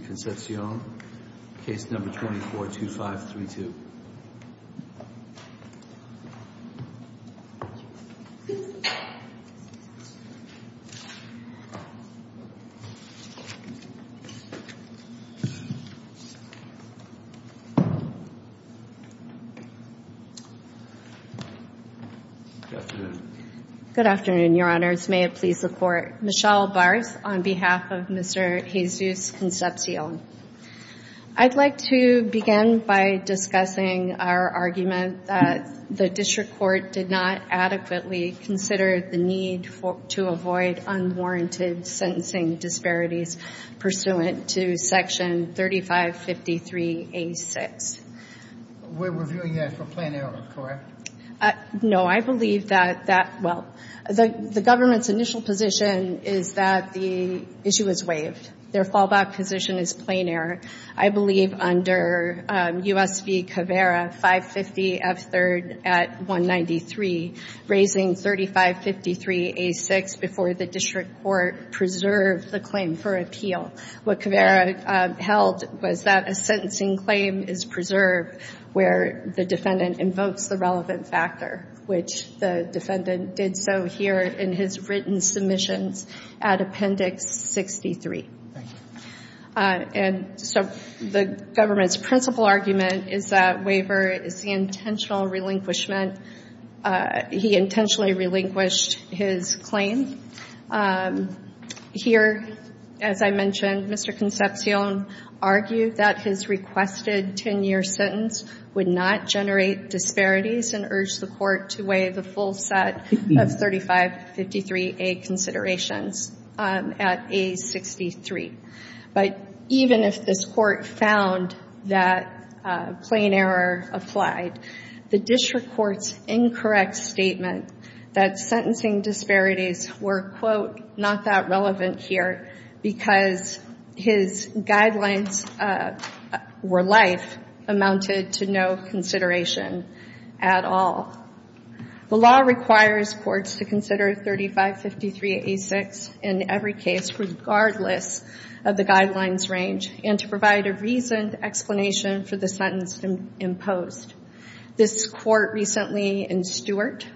, case number 242532. Good afternoon. Good afternoon, your honors. May it please the court. Michelle Bars on behalf of Mr. Jesus Concepcion. I'd like to begin by discussing our argument that the district court did not adequately consider the need to avoid unwarranted sentencing disparities pursuant to section 3553A6. We're reviewing that for plan error, correct? No, I believe that, well, the government's initial position is that the issue is waived. Their fallback position is plan error. I believe under U.S. v. Cavera, 550 F3rd at 193, raising 3553A6 before the district court preserved the claim for appeal. What Cavera held was that a sentencing claim is preserved where the defendant invokes the relevant factor, which the defendant did so here in his written submissions at Appendix 63. And so the government's principal argument is that waiver is the intentional relinquishment. He intentionally relinquished his claim. Here, as I mentioned, Mr. Concepcion argued that his requested 10-year sentence would not generate disparities and urged the court to weigh the full set of 3553A considerations at A63. But even if this court found that plan error applied, the district court's incorrect statement that sentencing disparities were, quote, not that relevant here because his guidelines were life amounted to no consideration at all. The law requires courts to consider 3553A6 in every case regardless of the guidelines range and to provide a reasoned explanation for the sentence imposed. This court recently in Stewart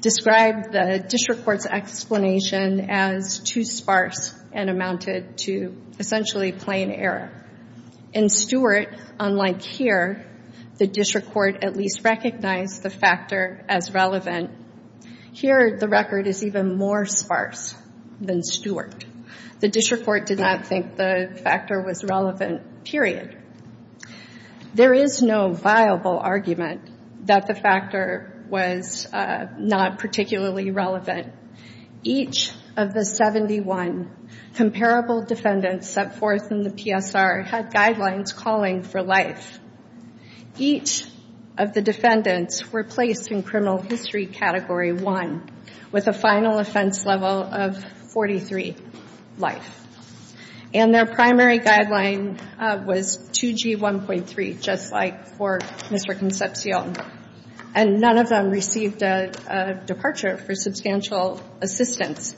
described the district court's explanation as too sparse and amounted to essentially plan error. In Stewart, unlike here, the district court at least recognized the factor as relevant. Here, the record is even more sparse than Stewart. The district court did not think the factor was relevant, period. There is no viable argument that the factor was not particularly relevant. Each of the 71 comparable defendants set forth in the PSR had guidelines calling for life. Each of the defendants were placed in criminal history category 1 with a final offense level of 43 life. And their primary guideline was 2G1.3, just like for Mr. Concepcion. And none of them received a departure for substantial assistance.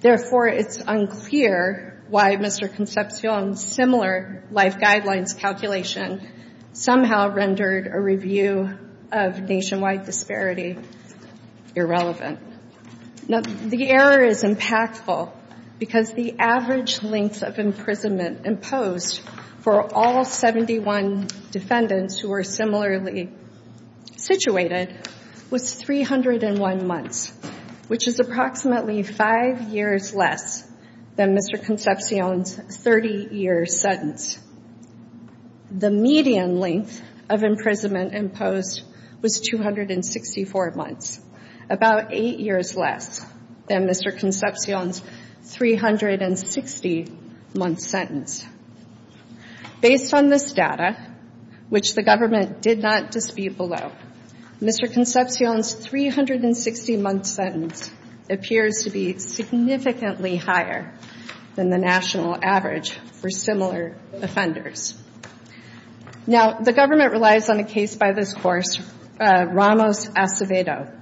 Therefore, it's unclear why Mr. Concepcion's similar life guidelines calculation somehow rendered a review of nationwide disparity irrelevant. Now, the error is impactful because the average length of imprisonment imposed for all 71 defendants who were similarly situated was 301 months, which is approximately five years less than Mr. Concepcion's 30-year sentence. The median length of imprisonment imposed was 264 months, about eight years less than Mr. Concepcion's 360-month sentence. Based on this data, which the government did not dispute below, Mr. Concepcion's 360-month sentence appears to be significantly higher than the national average for similar offenders. Now, the government relies on a case by this course, Ramos Acevedo,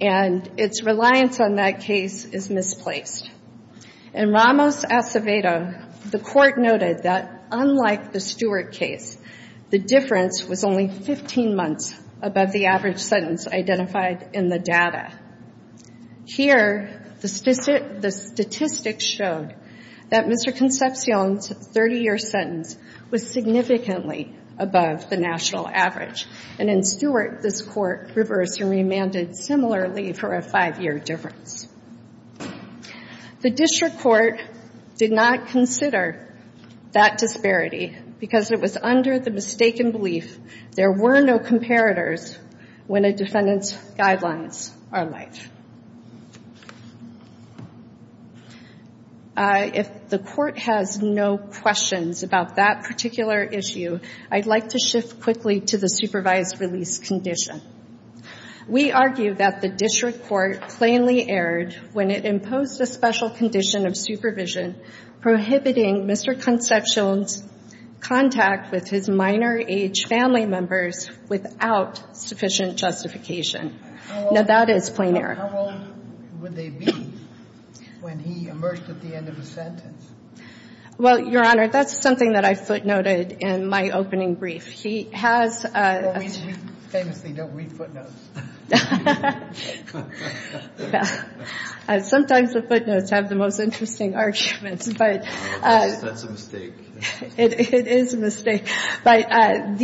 and its reliance on that case is misplaced. In Ramos Acevedo, the court noted that, unlike the Stewart case, the difference was only 15 months above the average sentence identified in the data. Here, the statistics showed that Mr. Concepcion's 30-year sentence was significantly above the national average. And in Stewart, this court reversed and remanded similarly for a five-year difference. The district court did not consider that disparity because it was under the mistaken belief there were no comparators when a defendant's guidelines are in place. If the court has no questions about that particular issue, I'd like to shift quickly to the supervised release condition. We argue that the district court plainly erred when it imposed a special condition of supervision prohibiting Mr. Concepcion's contact with his minor age family members without sufficient justification. Now, that is plain error. How old would they be when he emerged at the end of the sentence? Well, Your Honor, that's something that I footnoted in my opening brief. We famously don't read footnotes. Sometimes the footnotes have the most interesting arguments. That's a mistake. It is a mistake. But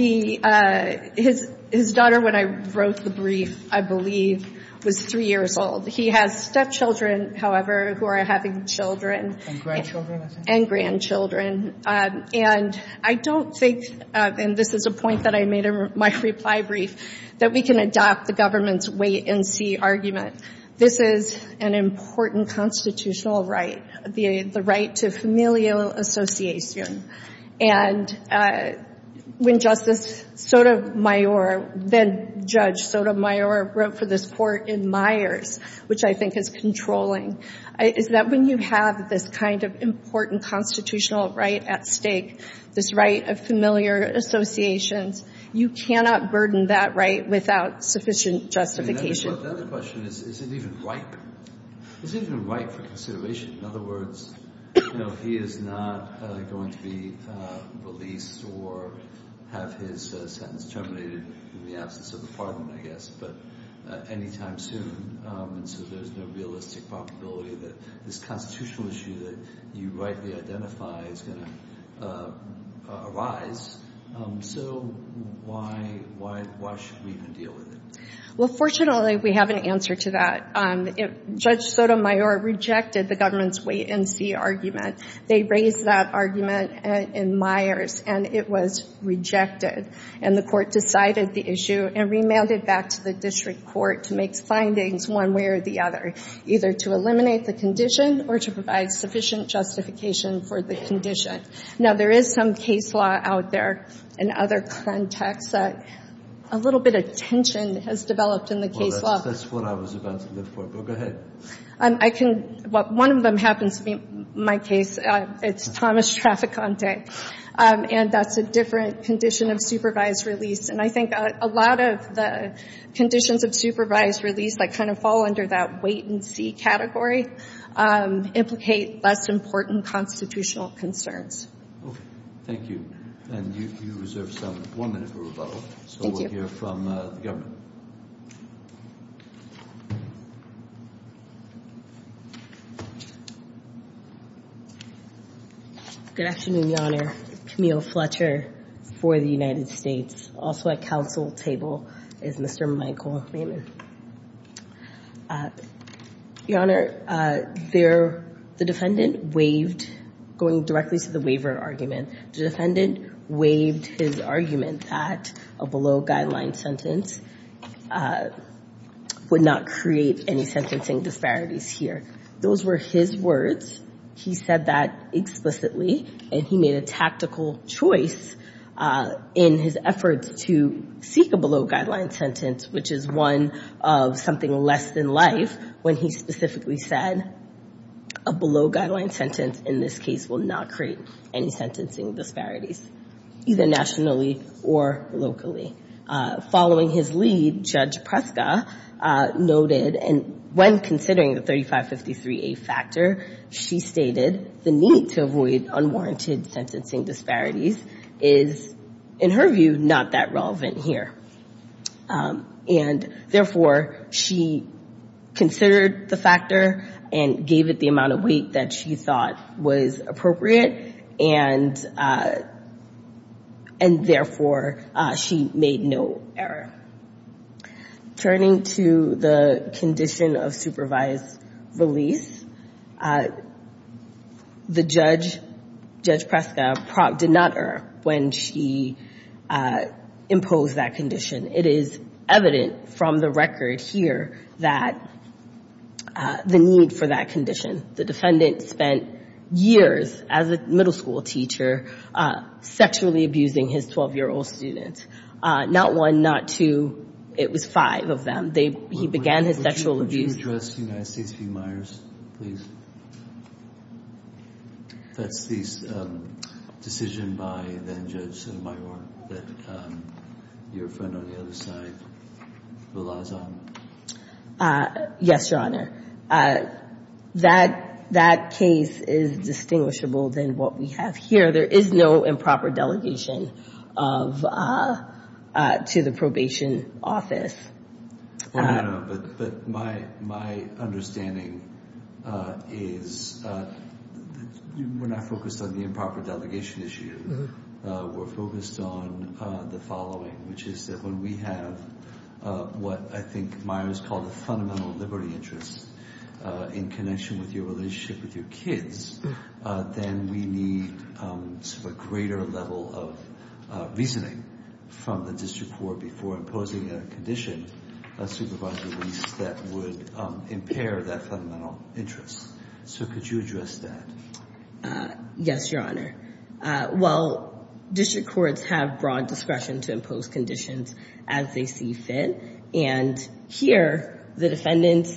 his daughter, when I wrote the brief, I believe, was three years old. He has stepchildren, however, who are having children. And grandchildren, I think. And grandchildren. And I don't think, and this is a point that I made in my reply brief, that we can adopt the government's wait-and-see argument. This is an important constitutional right, the right to familial association. And when Justice Sotomayor, then Judge Sotomayor, wrote for this court in Myers, which I think is controlling, is that when you have this kind of important constitutional right at stake, this right of familiar associations, you cannot burden that right without sufficient justification. The other question is, is it even ripe? Is it even ripe for consideration? In other words, he is not going to be released or have his sentence terminated in the absence of the parliament, I guess. But anytime soon. And so there's no realistic probability that this constitutional issue that you rightly identify is going to arise. So why should we even deal with it? Well, fortunately, we have an answer to that. Judge Sotomayor rejected the government's wait-and-see argument. They raised that argument in Myers, and it was rejected. And the court decided the issue and remanded back to the district court to make findings one way or the other, either to eliminate the condition or to provide sufficient justification for the condition. Now, there is some case law out there in other contexts that a little bit of tension has developed in the case law. Well, that's what I was about to look for. Go ahead. I can — one of them happens to be my case. It's Thomas Traficante. And that's a different condition of supervised release. And I think a lot of the conditions of supervised release that kind of fall under that wait-and-see category implicate less important constitutional concerns. Okay. Thank you. And you reserve one minute for rebuttal. Thank you. So we'll hear from the government. Good afternoon, Your Honor. Camille Fletcher for the United States. Also at counsel table is Mr. Michael Raymond. Your Honor, the defendant waived — going directly to the waiver argument. The defendant waived his argument that a below-guideline sentence would not create any sentencing disparities here. Those were his words. He said that explicitly, and he made a tactical choice in his efforts to seek a below-guideline sentence, which is one of something less than life, when he specifically said, a below-guideline sentence in this case will not create any sentencing disparities, either nationally or locally. Following his lead, Judge Preska noted, and when considering the 3553A factor, she stated the need to avoid unwarranted sentencing disparities is, in her view, not that relevant here. And, therefore, she considered the factor and gave it the amount of wait that she thought was appropriate, and, therefore, she made no error. Turning to the condition of supervised release, the judge, Judge Preska, did not err when she imposed that condition. It is evident from the record here that the need for that condition. The defendant spent years as a middle school teacher sexually abusing his 12-year-old student, not one, not two. It was five of them. He began his sexual abuse. Would you address the United States v. Myers, please? That's the decision by then-Judge Sotomayor that your friend on the other side relies on. Yes, Your Honor. That case is distinguishable than what we have here. There is no improper delegation to the probation office. Well, Your Honor, but my understanding is we're not focused on the improper delegation issue. We're focused on the following, which is that when we have what I think Myers called a fundamental liberty interest in connection with your relationship with your kids, then we need a greater level of reasoning from the district court before imposing a condition, a supervised release that would impair that fundamental interest. So could you address that? Yes, Your Honor. Well, district courts have broad discretion to impose conditions as they see fit, and here the defendant's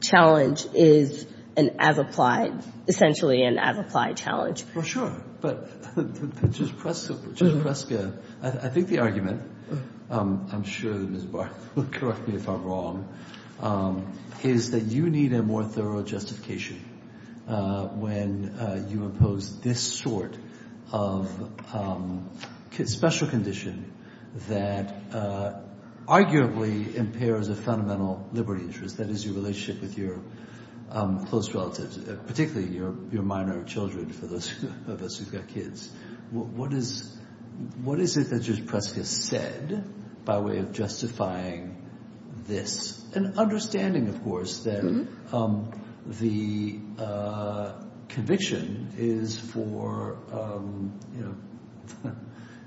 challenge is an as-applied, essentially an as-applied challenge. Well, sure. But, Judge Preska, I think the argument, I'm sure Ms. Barth will correct me if I'm wrong, is that you need a more thorough justification when you impose this sort of special condition that arguably impairs a fundamental liberty interest, that is your relationship with your close relatives, particularly your minor children for those of us who've got kids. What is it that Judge Preska said by way of justifying this? It's an understanding, of course, that the conviction is for, you know,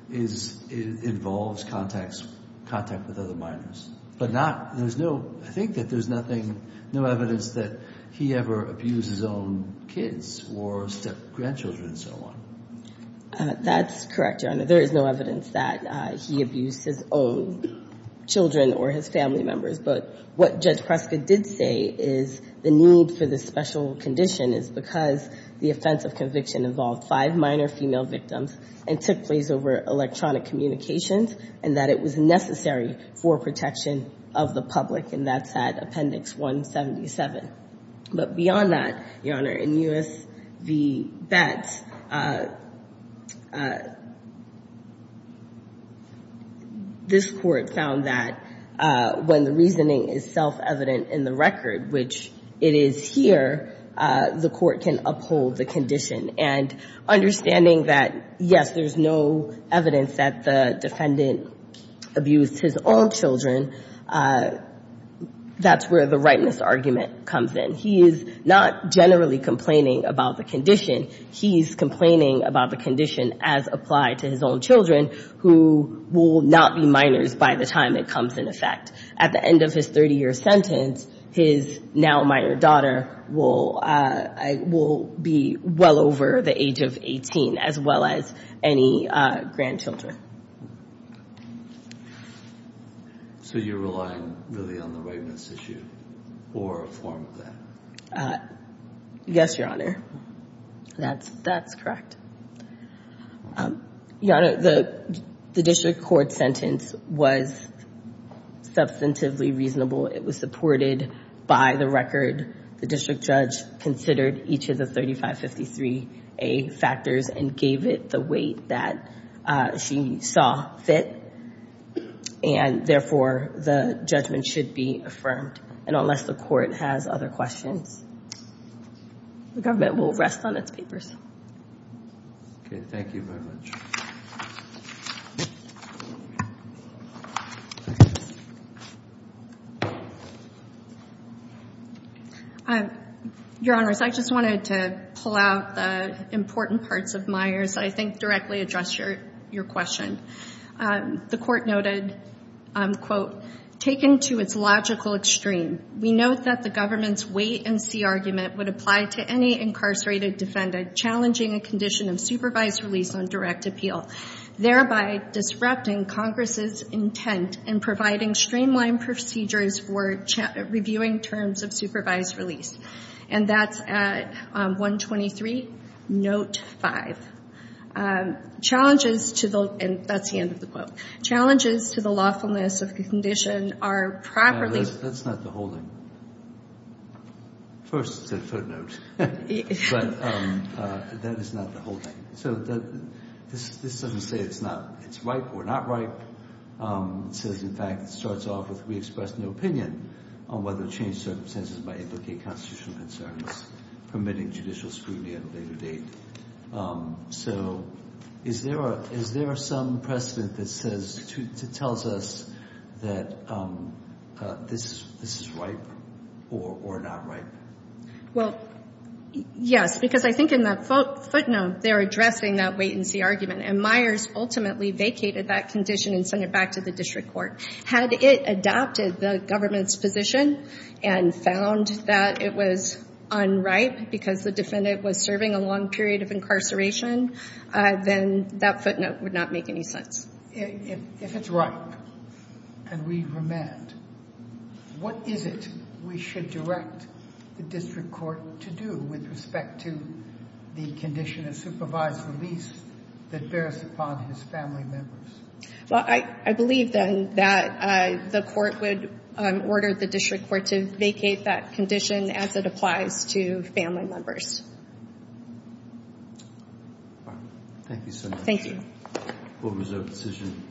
involves contact with other minors. But not, there's no, I think that there's nothing, no evidence that he ever abused his own kids or grandchildren and so on. That's correct, Your Honor. There is no evidence that he abused his own children or his family members. But what Judge Preska did say is the need for this special condition is because the offense of conviction involved five minor female victims and took place over electronic communications and that it was necessary for protection of the public, and that's at Appendix 177. But beyond that, Your Honor, in U.S. v. Betts, this Court found that when the reasoning is self-evident in the record, which it is here, the Court can uphold the condition. And understanding that, yes, there's no evidence that the defendant abused his own children, that's where the rightness argument comes in. He is not generally complaining about the condition. He's complaining about the condition as applied to his own children, who will not be minors by the time it comes into effect. At the end of his 30-year sentence, his now minor daughter will be well over the age of 18, as well as any grandchildren. So you're relying really on the rightness issue or a form of that? Yes, Your Honor. That's correct. Your Honor, the district court sentence was substantively reasonable. It was supported by the record. The district judge considered each of the 3553A factors and gave it the weight that she saw fit. And, therefore, the judgment should be affirmed. And unless the Court has other questions, the government will rest on its papers. Okay. Thank you very much. Your Honors, I just wanted to pull out the important parts of Myers that I think directly address your question. The Court noted, quote, taken to its logical extreme, we note that the government's weight and see argument would apply to any incarcerated defendant challenging a condition of supervised release on direct appeal, thereby disrupting Congress's intent in providing streamlined procedures for reviewing terms of supervised release. And that's at 123, note 5. Challenges to the, and that's the end of the quote, challenges to the lawfulness of the condition are properly. That's not the whole thing. First, it's a footnote. But that is not the whole thing. So this doesn't say it's ripe or not ripe. It says, in fact, it starts off with we express no opinion on whether to change circumstances by implicating constitutional concerns, permitting judicial scrutiny at a later date. So is there some precedent that tells us that this is ripe or not ripe? Well, yes, because I think in that footnote, they're addressing that wait and see argument. And Myers ultimately vacated that condition and sent it back to the district court. Had it adopted the government's position and found that it was unripe because the defendant was serving a long period of incarceration, then that footnote would not make any sense. If it's ripe and we remand, what is it we should direct the district court to do with respect to the condition of supervised release that bears upon his family members? Well, I believe, then, that the court would order the district court to vacate that condition as it applies to family members. Thank you so much. Thank you. Court was adjourned.